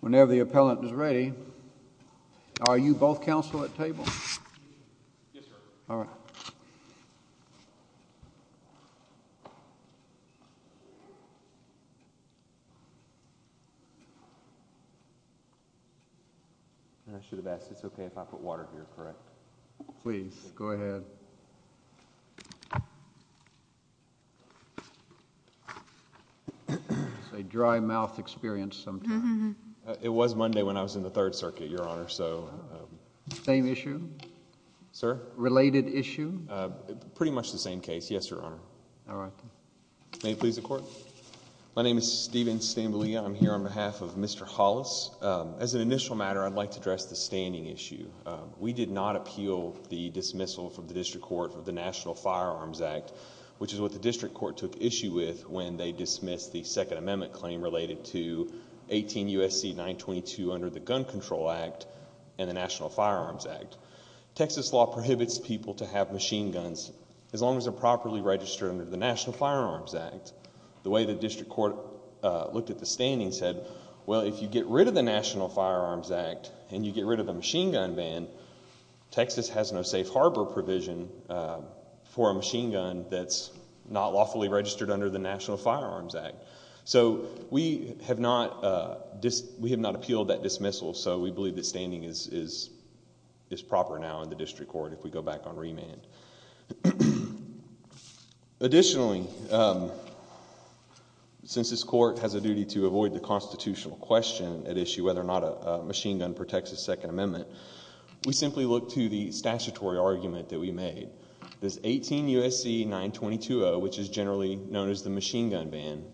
Whenever the appellant is ready, are you both counsel at table? Yes, sir. All right. I should have asked, it's okay if I put water here, correct? Please, go ahead. It's a dry mouth experience sometimes. It was Monday when I was in the Third Circuit, Your Honor, so. Same issue? Sir? Related issue? Pretty much the same case, yes, Your Honor. All right. May it please the Court? My name is Stephen Stamboulia. I'm here on behalf of Mr. Hollis. As an initial matter, I'd like to address the standing issue. We did not appeal the dismissal from the District Court of the National Firearms Act, which is what the District Court took issue with when they dismissed the Second Amendment claim related to 18 U.S.C. 922 under the Gun Control Act and the National Firearms Act. Texas law prohibits people to have machine guns as long as they're properly registered under the National Firearms Act. The way the District Court looked at the standing said, well, if you get rid of the National Firearms Act and you get rid of the machine gun ban, Texas has no safe harbor provision for a machine gun that's not lawfully registered under the National Firearms Act. So we have not appealed that dismissal, so we believe that standing is proper now in the District Court if we go back on remand. Additionally, since this Court has a duty to avoid the constitutional question at issue whether or not a machine gun protects a Second Amendment, we simply look to the statutory argument that we made. This 18 U.S.C. 922-0, which is generally known as the machine gun ban,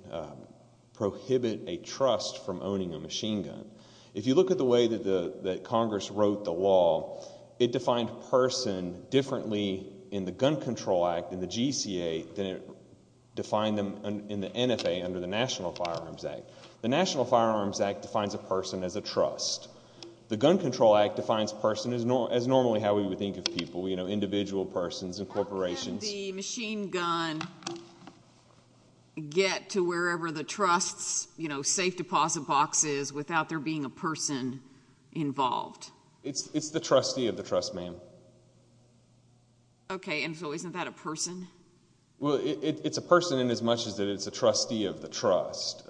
prohibit a trust from owning a machine gun. If you look at the way that Congress wrote the law, it defined person differently in the Gun Control Act, in the GCA, than it defined them in the NFA under the National Firearms Act. The National Firearms Act defines a person as a trust. The Gun Control Act defines person as normally how we would think of people, you know, individual persons and corporations. How can the machine gun get to wherever the trust's, you know, safe deposit box is without there being a person involved? It's the trustee of the trust, ma'am. Okay, and so isn't that a person? Well, it's a person in as much as that it's a trustee of the trust.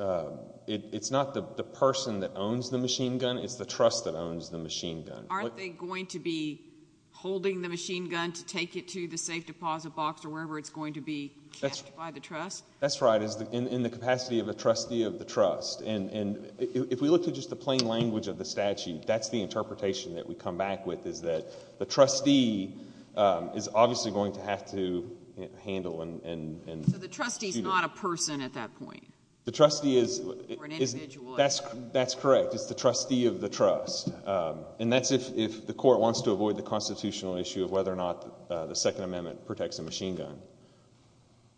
It's not the person that owns the machine gun, it's the trust that owns the machine gun. Aren't they going to be holding the machine gun to take it to the safe deposit box or wherever it's going to be kept by the trust? That's right, in the capacity of a trustee of the trust. And if we look at just the plain language of the statute, that's the interpretation that we come back with is that the trustee is obviously going to have to handle and... So the trustee's not a person at that point? The trustee is... Or an individual... That's correct. It's the trustee of the trust. And that's if the court wants to avoid the constitutional issue of whether or not the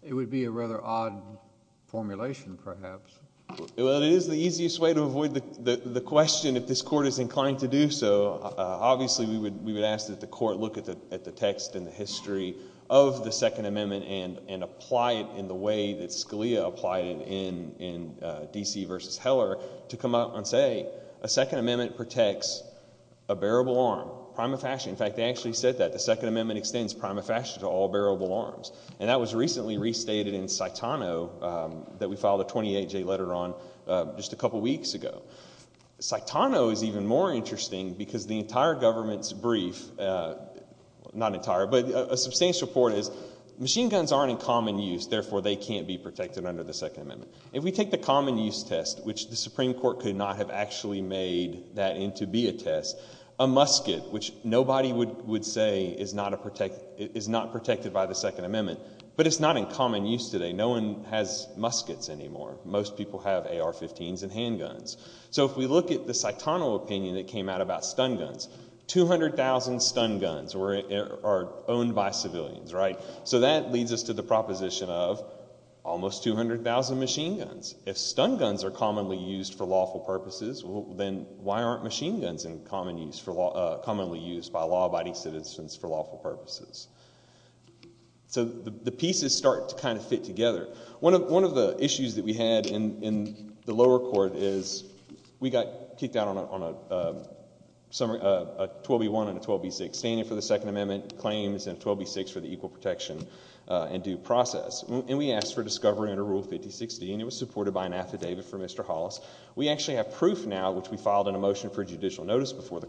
It would be a rather odd formulation, perhaps. Well, it is the easiest way to avoid the question if this court is inclined to do so. Obviously we would ask that the court look at the text and the history of the Second Amendment and apply it in the way that Scalia applied it in D.C. v. Heller to come out and say a Second Amendment protects a bearable arm, prima facie. In fact, they actually said that. The Second Amendment extends prima facie to all bearable arms. And that was recently restated in Saitano that we filed a 28-J letter on just a couple weeks ago. Saitano is even more interesting because the entire government's brief... not entire, but a substantial part is machine guns aren't in common use, therefore they can't be protected under the Second Amendment. If we take the common use test, which the Supreme Court could not have actually made that in to be a test, a musket, which nobody would say is not protected by the Second Amendment. But it's not in common use today. No one has muskets anymore. Most people have AR-15s and handguns. So if we look at the Saitano opinion that came out about stun guns, 200,000 stun guns are owned by civilians, right? So that leads us to the proposition of almost 200,000 machine guns. If stun guns are commonly used for lawful purposes, then why aren't machine guns commonly used by law-abiding citizens for lawful purposes? So the pieces start to kind of fit together. One of the issues that we had in the lower court is we got kicked out on a 12B1 and a 12B6, standing for the Second Amendment claims and a 12B6 for the equal protection and due process. And we asked for discovery under Rule 5060, and it was supported by an affidavit for Mr. Hollis. We actually have proof now, which we filed in a motion for judicial notice before the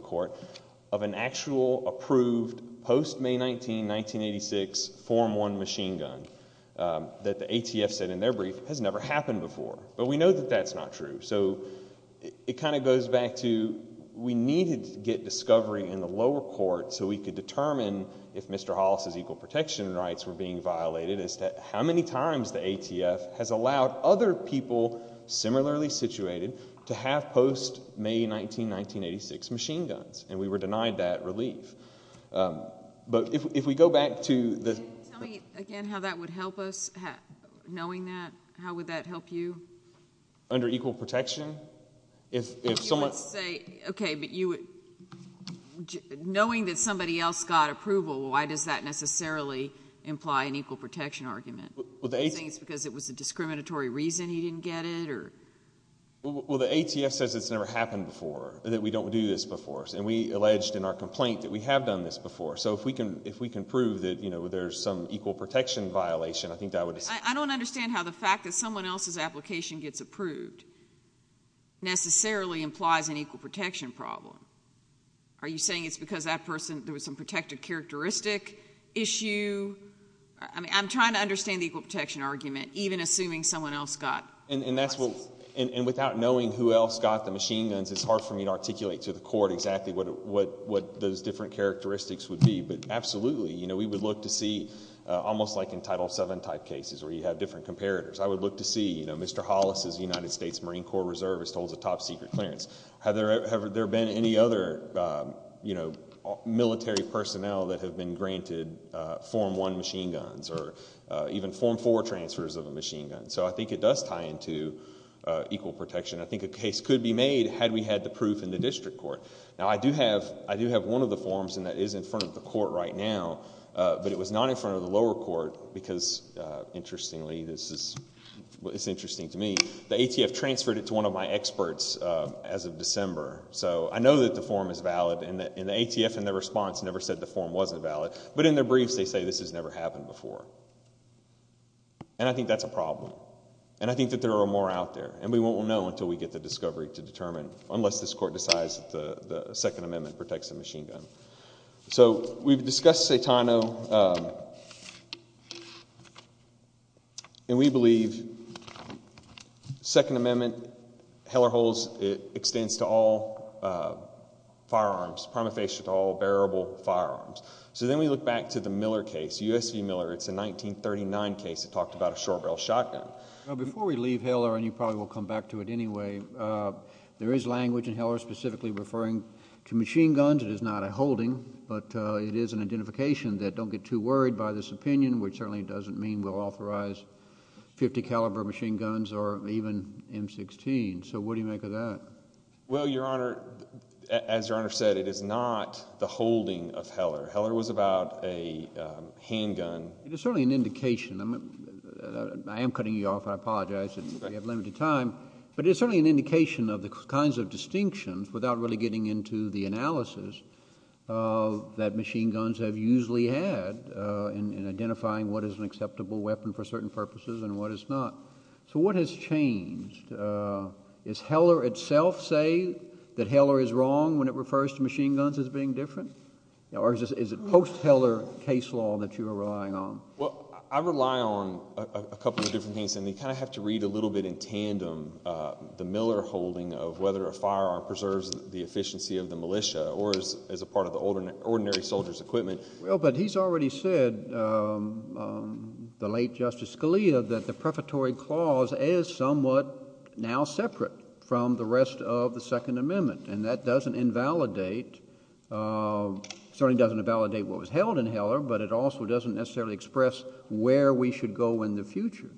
May 19, 1986 Form 1 machine gun that the ATF said in their brief has never happened before. But we know that that's not true. So it kind of goes back to we needed to get discovery in the lower court so we could determine if Mr. Hollis' equal protection rights were being violated as to how many times the ATF has allowed other people similarly situated to have post-May 19, 1986 machine guns, and we were denied that relief. But if we go back to the... Can you tell me again how that would help us, knowing that? How would that help you? Under equal protection? If someone... You would say, okay, but you would... knowing that somebody else got approval, why does that necessarily imply an equal protection argument? Do you think it's because it was a discriminatory reason he didn't get it, or... Well, the ATF says it's never happened before, that we don't do this before, and we alleged in our complaint that we have done this before. So if we can prove that there's some equal protection violation, I think that would... I don't understand how the fact that someone else's application gets approved necessarily implies an equal protection problem. Are you saying it's because that person... there was some protective characteristic issue? I mean, I'm trying to understand the equal protection argument, even assuming someone else got... And that's what... and without knowing who else got the machine guns, it's hard for me to articulate to the court exactly what those different characteristics would be. But absolutely, we would look to see... almost like in Title VII type cases, where you have different comparators. I would look to see Mr. Hollis's United States Marine Corps Reservist holds a top-secret clearance. Have there been any other military personnel that have been granted Form I machine guns, or even Form IV transfers of a machine gun? So I think it does tie into equal protection. I think a case could be made had we had the proof in the district court. Now, I do have one of the forms and that is in front of the court right now, but it was not in front of the lower court because, interestingly, this is... it's interesting to me. The ATF transferred it to one of my experts as of December. So I know that the form is valid, and the ATF in their response never said the form wasn't valid. But in their briefs, they say this has never happened before. And I think that's a problem, and I think that there are more out there. And we won't know until we get the discovery to determine, unless this court decides the Second Amendment protects the machine gun. So we've discussed Saitano, and we believe Second Amendment, Heller holds, it extends to all firearms, prima facie to all bearable firearms. So then we look back to the Miller case, U.S. v. Miller. It's a 1939 case that talked about a short-barreled shotgun. Well, before we leave Heller, and you probably will come back to it anyway, there is language in Heller specifically referring to machine guns. It is not a holding, but it is an identification that, don't get too worried by this opinion, which certainly doesn't mean we'll authorize... 50 caliber machine guns or even M-16. So what do you make of that? Well, Your Honor, as Your Honor said, it is not the holding of Heller. Heller was about a handgun... It is certainly an indication... I am cutting you off, I apologize, we have limited time. But it is certainly an indication of the kinds of distinctions, without really getting into the analysis, that machine guns have usually had in identifying what is an acceptable weapon for certain purposes and what is not. So what has changed? Is Heller itself saying that Heller is wrong when it refers to machine guns as being different? Or is it post-Heller case law that you are relying on? Well, I rely on a couple of different things, and you kind of have to read a little bit in tandem the Miller holding of whether a firearm preserves the efficiency of the militia or is a part of the ordinary soldier's equipment. Well, but he's already said, the late Justice Scalia, that the prefatory clause is somewhat now separate from the rest of the Second Amendment. And that doesn't invalidate... certainly doesn't invalidate what was held in Heller, but it also doesn't necessarily express where we should go in the future.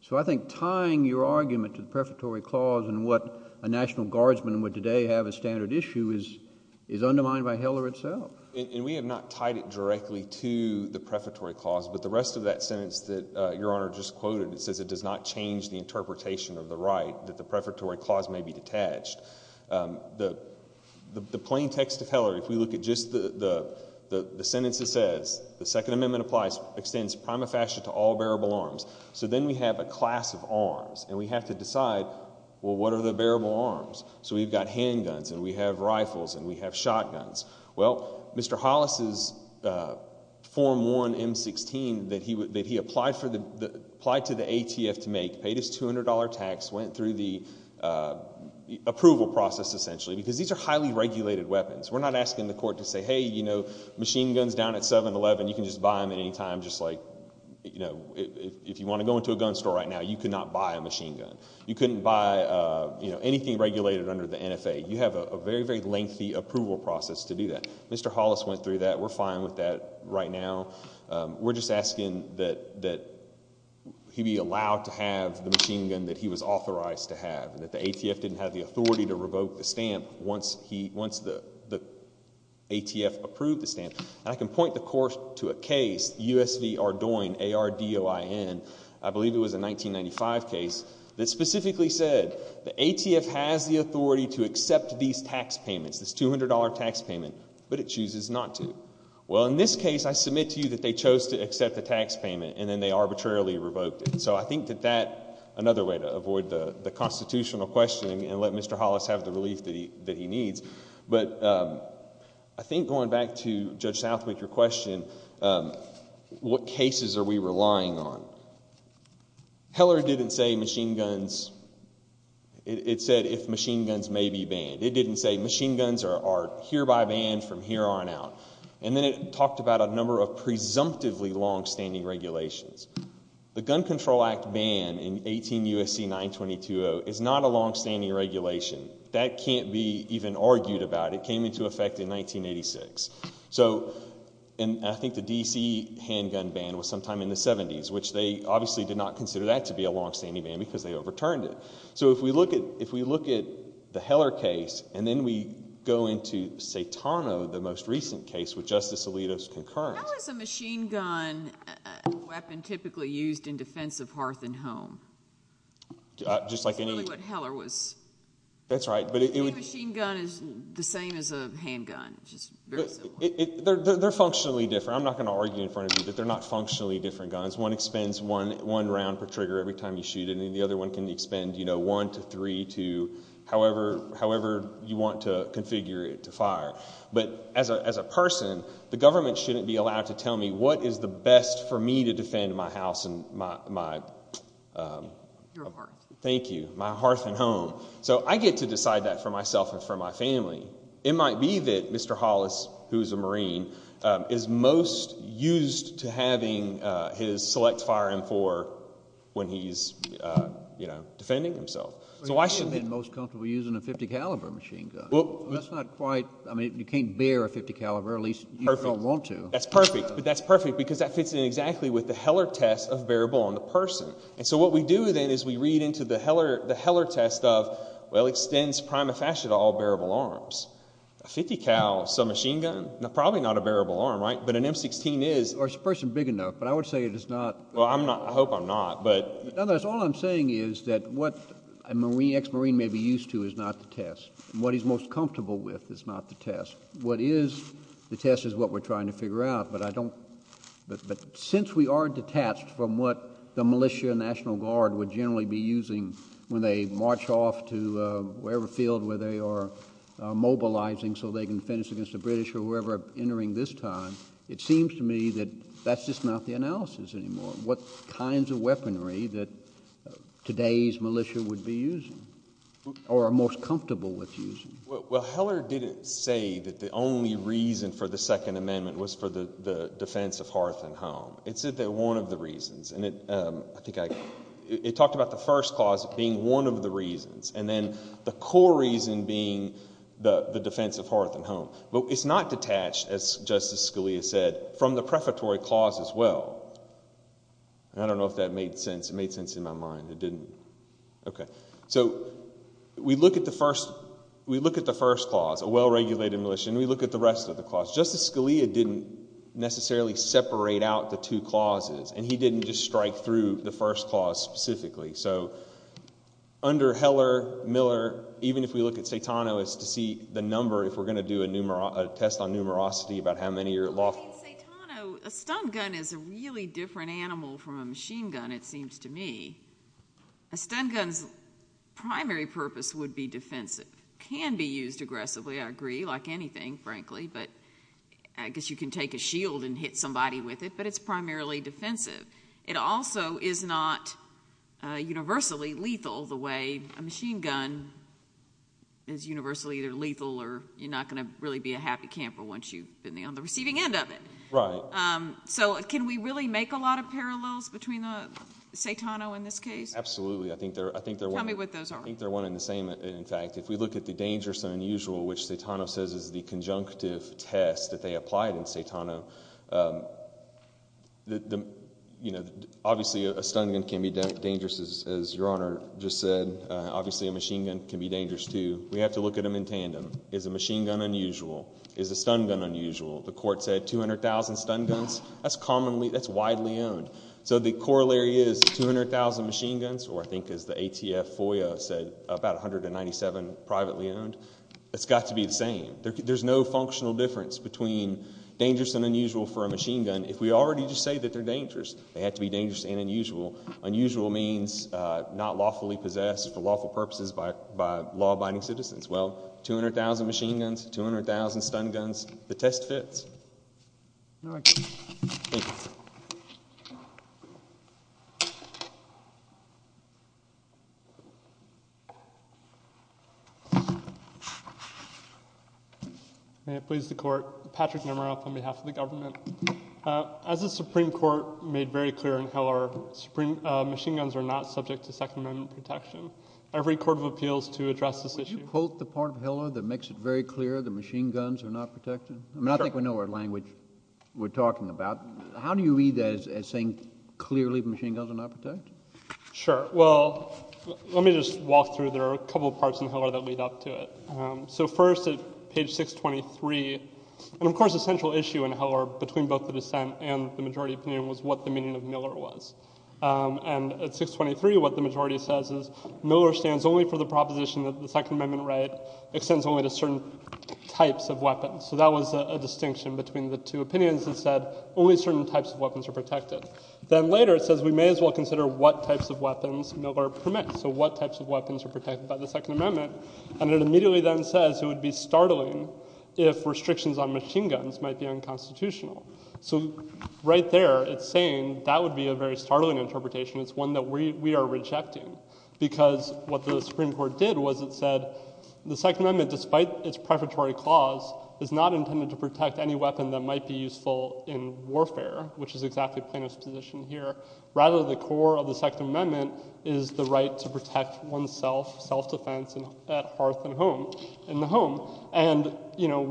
So I think tying your argument to the prefatory clause and what a National Guardsman would today have as standard issue is undermined by Heller itself. And we have not tied it directly to the prefatory clause, but the rest of that sentence that Your Honor just quoted, it says it does not change the interpretation of the right, that the prefatory clause may be detached. The plain text of Heller, if we look at just the sentence it says, the Second Amendment applies, extends prima facie to all bearable arms. So then we have a class of arms, and we have to decide, well, what are the bearable arms? So we've got handguns, and we have rifles, and we have shotguns. Well, Mr. Hollis's Form 1 M-16 that he applied to the ATF to make, paid his $200 tax, went through the approval process, essentially, because these are highly regulated weapons. We're not asking the court to say, hey, you know, machine guns down at 7-Eleven, you can just buy them at any time, just like, you know, if you want to go into a gun store right now, you could not buy a machine gun. You couldn't buy anything regulated under the NFA. You have a very, very lengthy approval process to do that. Mr. Hollis went through that. We're fine with that right now. We're just asking that he be allowed to have the machine gun that he was authorized to have and that the ATF didn't have the authority to revoke the stamp once the ATF approved the stamp. I can point the court to a case, U.S. v. Ardoin, A-R-D-O-I-N, I believe it was a 1995 case that specifically said the ATF has the authority to accept these tax payments, this $200 tax payment, but it chooses not to. Well, in this case, I submit to you that they chose to accept the tax payment and then they arbitrarily revoked it. So I think that that's another way to avoid the constitutional questioning and let Mr. Hollis have the relief that he needs. But I think going back to Judge Southwick, your question, what cases are we relying on? Heller didn't say machine guns, it said if machine guns may be banned. It didn't say machine guns are hereby banned from here on out. And then it talked about a number of presumptively longstanding regulations. The Gun Control Act ban in 18 U.S.C. 922-0 is not a longstanding regulation. That can't be even argued about. It came into effect in 1986. So I think the D.C. handgun ban was sometime in the 70s, which they obviously did not consider that to be a longstanding ban because they overturned it. So if we look at the Heller case and then we go into Satano, the most recent case with Justice Alito's concurrence. How is a machine gun a weapon typically used in defense of hearth and home? Just like any... That's really what Heller was... That's right. A machine gun is the same as a handgun, just very similar. They're functionally different. I'm not going to argue in front of you that they're not functionally different guns. One expends one round per trigger every time you shoot it and the other one can expend, you know, one to three to however you want to configure it to fire. But as a person, the government shouldn't be allowed to tell me what is the best for me to defend my house and my... Your hearth. Thank you. My hearth and home. So I get to decide that for myself and for my family. It might be that Mr. Hollis, who is a Marine, is most used to having his select fire M4 when he's, you know, defending himself. So I shouldn't... Most comfortable using a .50 caliber machine gun. Well, that's not quite... I mean, you can't bear a .50 caliber, at least you don't want to. That's perfect. But that's perfect because that fits in exactly with the Heller test of bearable on the person. And so what we do then is we read into the Heller test of, well, extends prima facie to all bearable arms. A .50 cal submachine gun, probably not a bearable arm, right? But an M16 is. Or it's a person big enough. But I would say it is not... Well, I'm not... I hope I'm not, but... In other words, all I'm saying is that what a Marine, ex-Marine may be used to is not the test. And what he's most comfortable with is not the test. What is the test is what we're trying to figure out, but I don't... But since we are detached from what the militia and National Guard would generally be using when they march off to wherever field where they are mobilizing so they can finish against the British or whoever entering this time, it seems to me that that's just not the analysis anymore. What kinds of weaponry that today's militia would be using or are most comfortable with using? Well, Heller didn't say that the only reason for the Second Amendment was for the defense of hearth and home. It said that one of the reasons, and I think I... It talked about the first clause being one of the reasons, and then the core reason being the defense of hearth and home. But it's not detached, as Justice Scalia said, from the prefatory clause as well, and I don't know if that made sense. It made sense in my mind. It didn't. Okay. So we look at the first clause, a well-regulated militia, and we look at the rest of the clause. Justice Scalia didn't necessarily separate out the two clauses, and he didn't just strike through the first clause specifically. So under Heller, Miller, even if we look at Saitano, it's to see the number if we're going to do a test on numerosity, about how many are at law... Well, I mean, Saitano, a stun gun is a really different animal from a machine gun, it seems to me. A stun gun's primary purpose would be defensive. It can be used aggressively, I agree, like anything, frankly, but I guess you can take a shield and hit somebody with it, but it's primarily defensive. It also is not universally lethal, the way a machine gun is universally either lethal or you're not going to really be a happy camper once you've been on the receiving end of it. Right. So can we really make a lot of parallels between Saitano in this case? Absolutely. Tell me what those are. I think they're one and the same, in fact. If we look at the dangerous and unusual, which Saitano says is the conjunctive test that they applied in Saitano, you know, obviously a stun gun can be dangerous, as Your Honor just said. Obviously a machine gun can be dangerous, too. We have to look at them in tandem. Is a machine gun unusual? Is a stun gun unusual? The court said 200,000 stun guns, that's widely owned. So the corollary is 200,000 machine guns, or I think as the ATF FOIA said, about 197 privately owned. It's got to be the same. There's no functional difference between dangerous and unusual for a machine gun. Unusual means not lawfully possessed for lawful purposes by law-abiding citizens. Well, 200,000 machine guns, 200,000 stun guns, the test fits. Thank you. May it please the Court. As the Supreme Court made very clear in Hiller, machine guns are not subject to Second Amendment protection. Every court of appeal is to address this issue. Will you quote the part of Hiller that makes it very clear that machine guns are not protected? I mean, I think we know what language we're talking about. How do you read that as saying clearly machine guns are not protected? Sure. Well, let me just walk through, there are a couple parts in Hiller that lead up to it. So first at page 623, and of course a central issue in Hiller between both the dissent and the majority opinion was what the meaning of Miller was. And at 623 what the majority says is Miller stands only for the proposition that the Second Amendment right extends only to certain types of weapons. So that was a distinction between the two opinions that said only certain types of weapons are protected. Then later it says we may as well consider what types of weapons Miller permits, so what types of weapons are protected by the Second Amendment. And it immediately then says it would be startling if restrictions on machine guns might be unconstitutional. So right there it's saying that would be a very startling interpretation. It's one that we are rejecting because what the Supreme Court did was it said the Second Amendment, despite its preparatory clause, is not intended to protect any weapon that might be useful in warfare, which is exactly Plano's position here. Rather, the core of the Second Amendment is the right to protect oneself, self-defense at hearth and home, in the home. And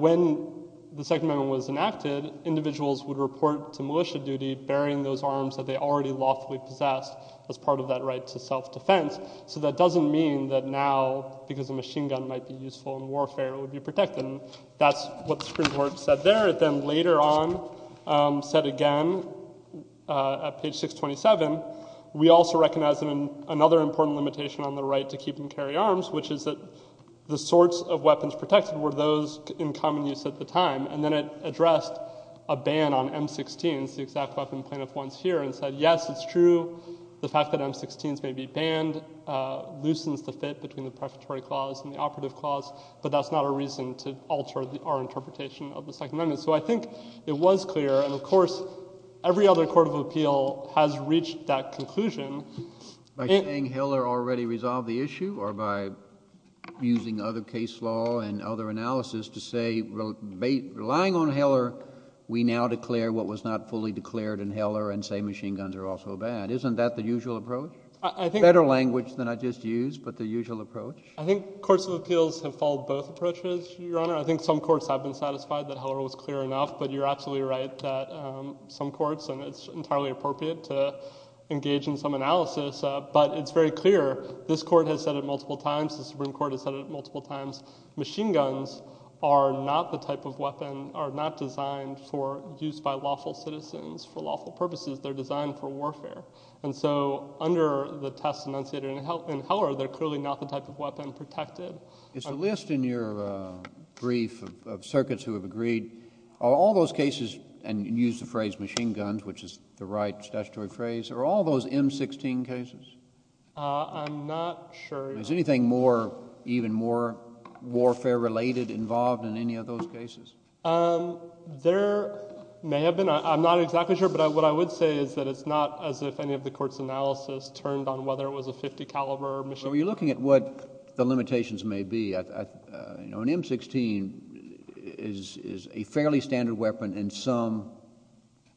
when the Second Amendment was enacted, individuals would report to militia duty bearing those arms that they already lawfully possessed as part of that right to self-defense. So that doesn't mean that now, because a machine gun might be useful in warfare, it would be protected. That's what the Supreme Court said there. It then later on said again, at page 627, we also recognize another important limitation on the right to keep and carry arms, which is that the sorts of weapons protected were those in common use at the time. And then it addressed a ban on M16s, the exact weapon Plano wants here, and said, yes, it's true, the fact that M16s may be banned loosens the fit between the preparatory clause and the operative clause, but that's not a reason to alter our interpretation of the Second Amendment. So I think it was clear, and of course, every other court of appeal has reached that conclusion. By saying Heller already resolved the issue, or by using other case law and other analysis to say, relying on Heller, we now declare what was not fully declared in Heller and say machine guns are also a ban? Isn't that the usual approach? I think— Better language than I just used, but the usual approach? I think courts of appeals have followed both approaches, Your Honor. I think some courts have been satisfied that Heller was clear enough, but you're absolutely right that some courts, and it's entirely appropriate to engage in some analysis, but it's very clear, this Court has said it multiple times, the Supreme Court has said it multiple times, machine guns are not the type of weapon, are not designed for use by lawful citizens for lawful purposes. They're designed for warfare. And so under the test enunciated in Heller, they're clearly not the type of weapon protected. It's a list in your brief of circuits who have agreed, are all those cases, and you used the phrase machine guns, which is the right statutory phrase, are all those M16 cases? I'm not sure, Your Honor. Is anything more, even more warfare-related involved in any of those cases? There may have been. I'm not exactly sure, but what I would say is that it's not as if any of the court's analysis turned on whether it was a .50 caliber machine gun. So you're looking at what the limitations may be. An M16 is a fairly standard weapon in some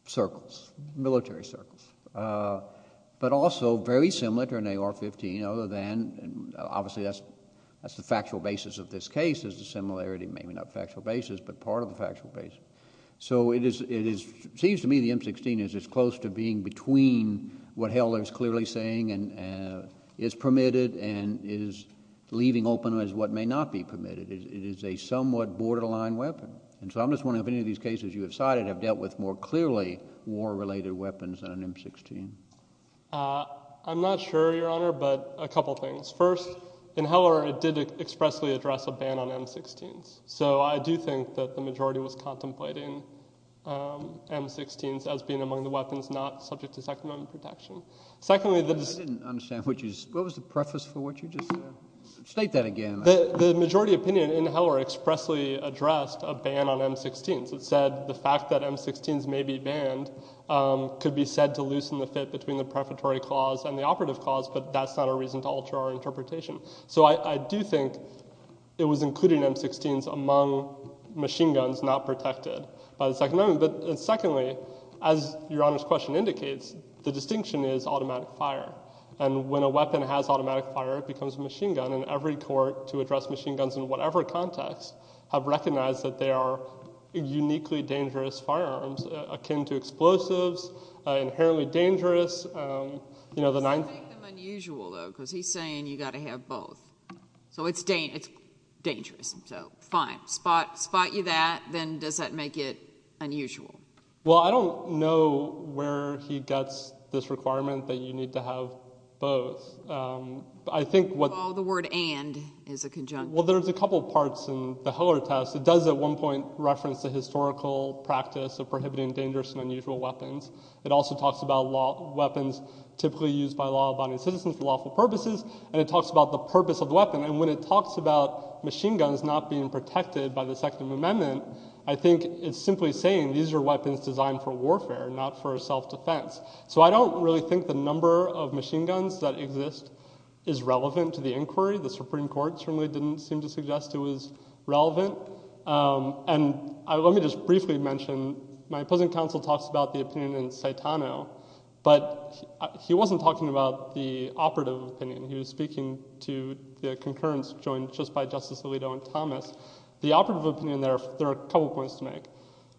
circles, military circles. But also very similar to an AR-15, other than, obviously, that's the factual basis of this case is the similarity, maybe not factual basis, but part of the factual basis. So it seems to me the M16 is as close to being between what Heller is clearly saying is permitted and is leaving open as what may not be permitted. It is a somewhat borderline weapon. And so I'm just wondering if any of these cases you have cited have dealt with more clearly war-related weapons than an M16. I'm not sure, Your Honor, but a couple things. First, in Heller it did expressly address a ban on M16s. So I do think that the majority was contemplating M16s as being among the weapons not subject to Second Amendment protection. I didn't understand. What was the preface for what you just said? State that again. The majority opinion in Heller expressly addressed a ban on M16s. It said the fact that M16s may be banned could be said to loosen the fit between the prefatory clause and the operative clause, but that's not a reason to alter our interpretation. So I do think it was including M16s among machine guns not protected by the Second Amendment. But secondly, as Your Honor's question indicates, the distinction is automatic fire. And when a weapon has automatic fire, it becomes a machine gun. And every court to address machine guns in whatever context have recognized that they are uniquely dangerous firearms akin to explosives, inherently dangerous. You know, the nine— Does that make them unusual, though? Because he's saying you've got to have both. So it's dangerous. So, fine. Spot you that. But if you have that, then does that make it unusual? Well, I don't know where he gets this requirement that you need to have both. I think what— Well, the word and is a conjunction. Well, there's a couple parts in the Heller test. It does at one point reference the historical practice of prohibiting dangerous and unusual weapons. It also talks about weapons typically used by law-abiding citizens for lawful purposes. And it talks about the purpose of the weapon. And when it talks about machine guns not being protected by the Second Amendment, I think it's simply saying these are weapons designed for warfare, not for self-defense. So I don't really think the number of machine guns that exist is relevant to the inquiry. The Supreme Court certainly didn't seem to suggest it was relevant. And let me just briefly mention, my opposing counsel talks about the opinion in Saitano, but he wasn't talking about the operative opinion. He was speaking to the concurrence joined just by Justice Alito and Thomas. The operative opinion there, there are a couple points to make.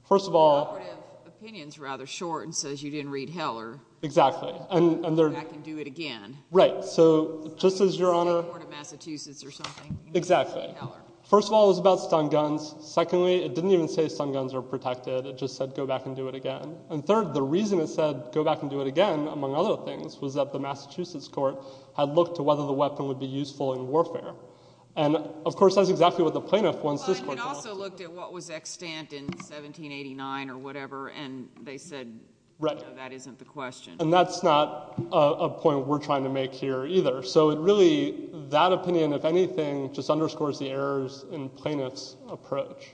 First of all— The operative opinion is rather short and says you didn't read Heller. Exactly. And they're— Go back and do it again. Right. So just as Your Honor— You should have said more to Massachusetts or something. Exactly. You didn't read Heller. First of all, it was about stun guns. Secondly, it didn't even say stun guns are protected. It just said go back and do it again. And third, the reason it said go back and do it again, among other things, was that the Massachusetts court had looked to whether the weapon would be useful in warfare. And of course, that's exactly what the plaintiff wants this court to look to. But it also looked at what was extant in 1789 or whatever, and they said, no, that isn't the question. Right. And that's not a point we're trying to make here either. So really, that opinion, if anything, just underscores the errors in plaintiff's approach.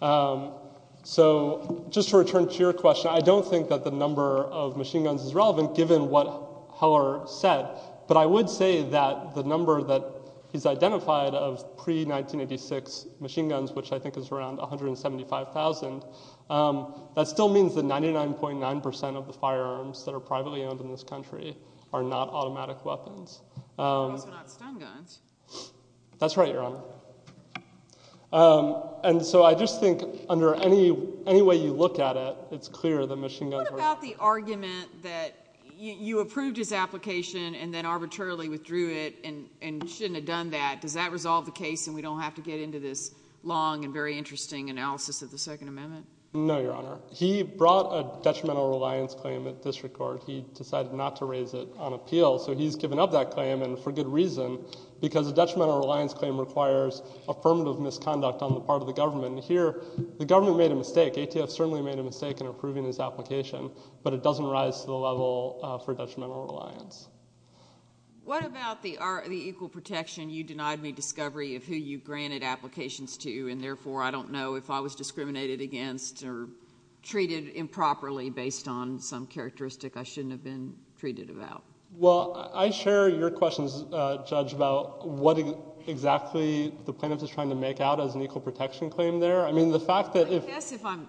So just to return to your question, I don't think that the number of machine guns is relevant given what Heller said. But I would say that the number that he's identified of pre-1986 machine guns, which I think is around 175,000, that still means that 99.9 percent of the firearms that are privately owned in this country are not automatic weapons. Those are not stun guns. That's right, Your Honor. And so I just think under any way you look at it, it's clear that machine guns are— What about the argument that you approved his application and then arbitrarily withdrew it and shouldn't have done that? Does that resolve the case and we don't have to get into this long and very interesting analysis of the Second Amendment? No, Your Honor. He brought a detrimental reliance claim at district court. He decided not to raise it on appeal. So he's given up that claim, and for good reason, because a detrimental reliance claim requires affirmative misconduct on the part of the government. Here, the government made a mistake. ATF certainly made a mistake in approving his application, but it doesn't rise to the level for detrimental reliance. What about the equal protection? You denied me discovery of who you granted applications to, and therefore I don't know if I was discriminated against or treated improperly based on some characteristic I shouldn't have been treated about. Well, I share your questions, Judge, about what exactly the plaintiff is trying to make out as an equal protection claim there. I guess if I'm,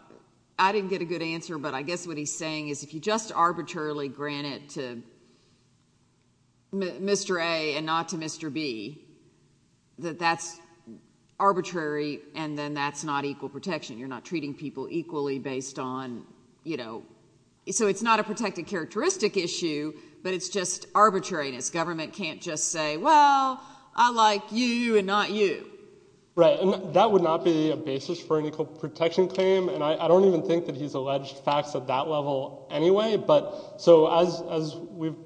I didn't get a good answer, but I guess what he's saying is if you just arbitrarily grant it to Mr. A and not to Mr. B, that that's arbitrary and then that's not equal protection. You're not treating people equally based on, you know, so it's not a protected characteristic issue, but it's just arbitrariness. Government can't just say, well, I like you and not you. Right, and that would not be a basis for an equal protection claim, and I don't even think that he's alleged facts at that level anyway. But so as we've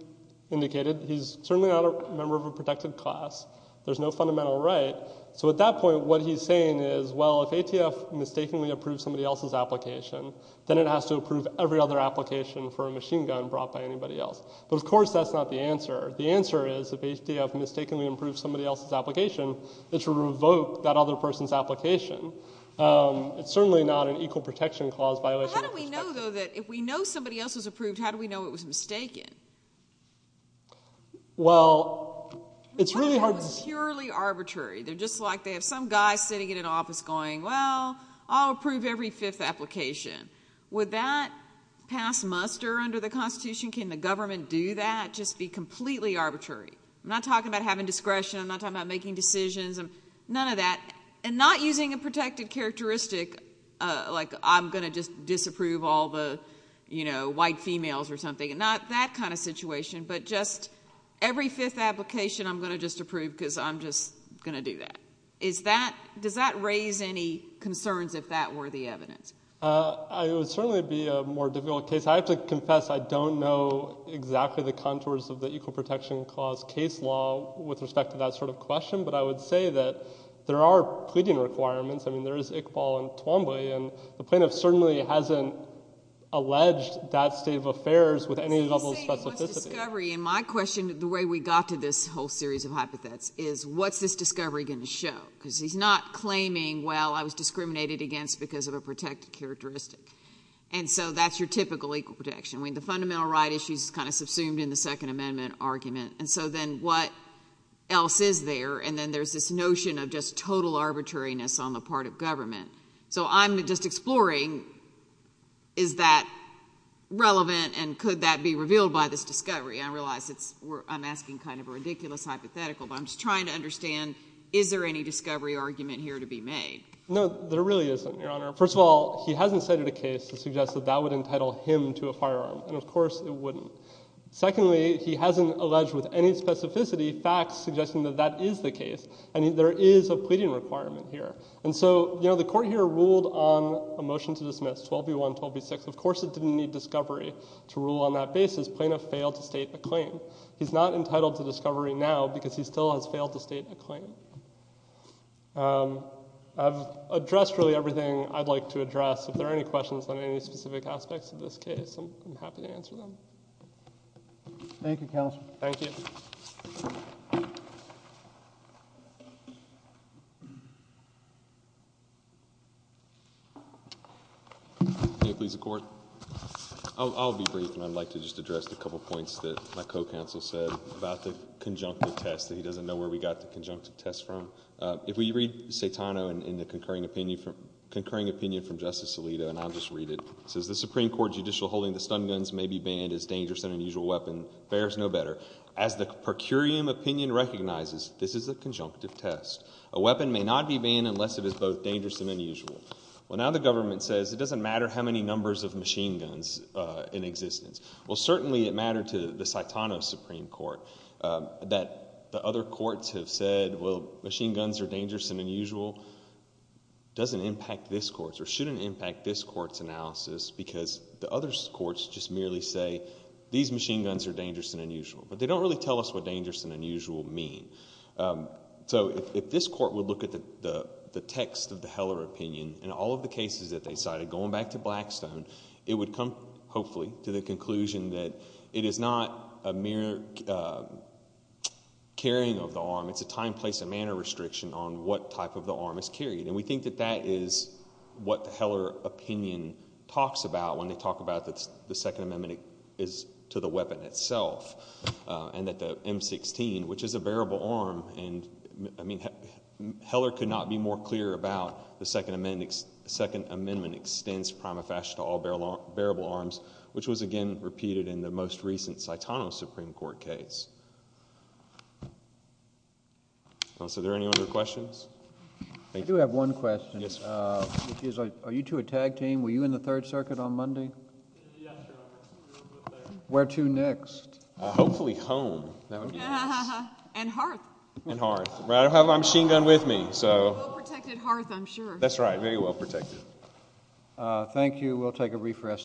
indicated, he's certainly not a member of a protected class. There's no fundamental right. So at that point, what he's saying is, well, if ATF mistakenly approved somebody else's application, then it has to approve every other application for a machine gun brought But of course, that's not the answer. The answer is, if ATF mistakenly approved somebody else's application, it's to revoke that other person's application. It's certainly not an equal protection clause violation. How do we know, though, that if we know somebody else was approved, how do we know it was mistaken? Well, it's really hard to say. What if it was purely arbitrary? They're just like, they have some guy sitting in an office going, well, I'll approve every fifth application. Would that pass muster under the Constitution? Can the government do that? Can that just be completely arbitrary? I'm not talking about having discretion. I'm not talking about making decisions. None of that. And not using a protected characteristic, like I'm going to just disapprove all the white females or something. Not that kind of situation, but just every fifth application, I'm going to just approve because I'm just going to do that. Does that raise any concerns, if that were the evidence? It would certainly be a more difficult case. I have to confess, I don't know exactly the contours of the equal protection clause case law with respect to that sort of question, but I would say that there are pleading requirements. There is Iqbal and Twombly, and the plaintiff certainly hasn't alleged that state of affairs with any level of specificity. So you're saying it was discovery. And my question, the way we got to this whole series of hypotheses, is what's this discovery going to show? Because he's not claiming, well, I was discriminated against because of a protected characteristic. And so that's your typical equal protection. I mean, the fundamental right issue is kind of subsumed in the Second Amendment argument. And so then what else is there? And then there's this notion of just total arbitrariness on the part of government. So I'm just exploring, is that relevant, and could that be revealed by this discovery? I realize I'm asking kind of a ridiculous hypothetical, but I'm just trying to understand, is there any discovery argument here to be made? No, there really isn't, Your Honor. First of all, he hasn't cited a case to suggest that that would entitle him to a firearm. And of course, it wouldn't. Secondly, he hasn't alleged with any specificity facts suggesting that that is the case. And there is a pleading requirement here. And so, you know, the court here ruled on a motion to dismiss, 12 v. 1, 12 v. 6. Of course it didn't need discovery to rule on that basis. Plaintiff failed to state a claim. He's not entitled to discovery now because he still has failed to state a claim. I've addressed really everything I'd like to address. If there are any questions on any specific aspects of this case, I'm happy to answer them. Thank you, Counselor. Thank you. Can you please accord? I'll be brief, and I'd like to just address a couple points that my co-counsel said about the conjunctive test, that he doesn't know where we got the conjunctive test from. If we read Saitano in the concurring opinion from Justice Alito, and I'll just read it. It says, the Supreme Court judicial holding the stun guns may be banned as dangerous and unusual weapon bears no better. As the per curiam opinion recognizes, this is a conjunctive test. A weapon may not be banned unless it is both dangerous and unusual. Well, now the government says it doesn't matter how many numbers of machine guns in existence. Well, certainly it mattered to the Saitano Supreme Court that the other courts have said, well, machine guns are dangerous and unusual. Doesn't impact this court's, or shouldn't impact this court's analysis because the other courts just merely say, these machine guns are dangerous and unusual. But they don't really tell us what dangerous and unusual mean. So if this court would look at the text of the Heller opinion in all of the cases that they cited, going back to Blackstone, it would come, hopefully, to the conclusion that it is not a mere carrying of the arm. It's a time, place, and manner restriction on what type of the arm is carried. And we think that that is what the Heller opinion talks about when they talk about the Second Amendment is to the weapon itself. And that the M16, which is a bearable arm, and I mean, Heller could not be more clear about the Second Amendment extends prima facie to all bearable arms, which was, again, repeated in the most recent Saitano Supreme Court case. So are there any other questions? Thank you. I do have one question. Yes, sir. Are you two a tag team? Were you in the Third Circuit on Monday? Where to next? Hopefully home. That would be nice. And hearth. And hearth. I have my machine gun with me. Well-protected hearth, I'm sure. That's right. Very well-protected. Thank you. We'll take a brief rest.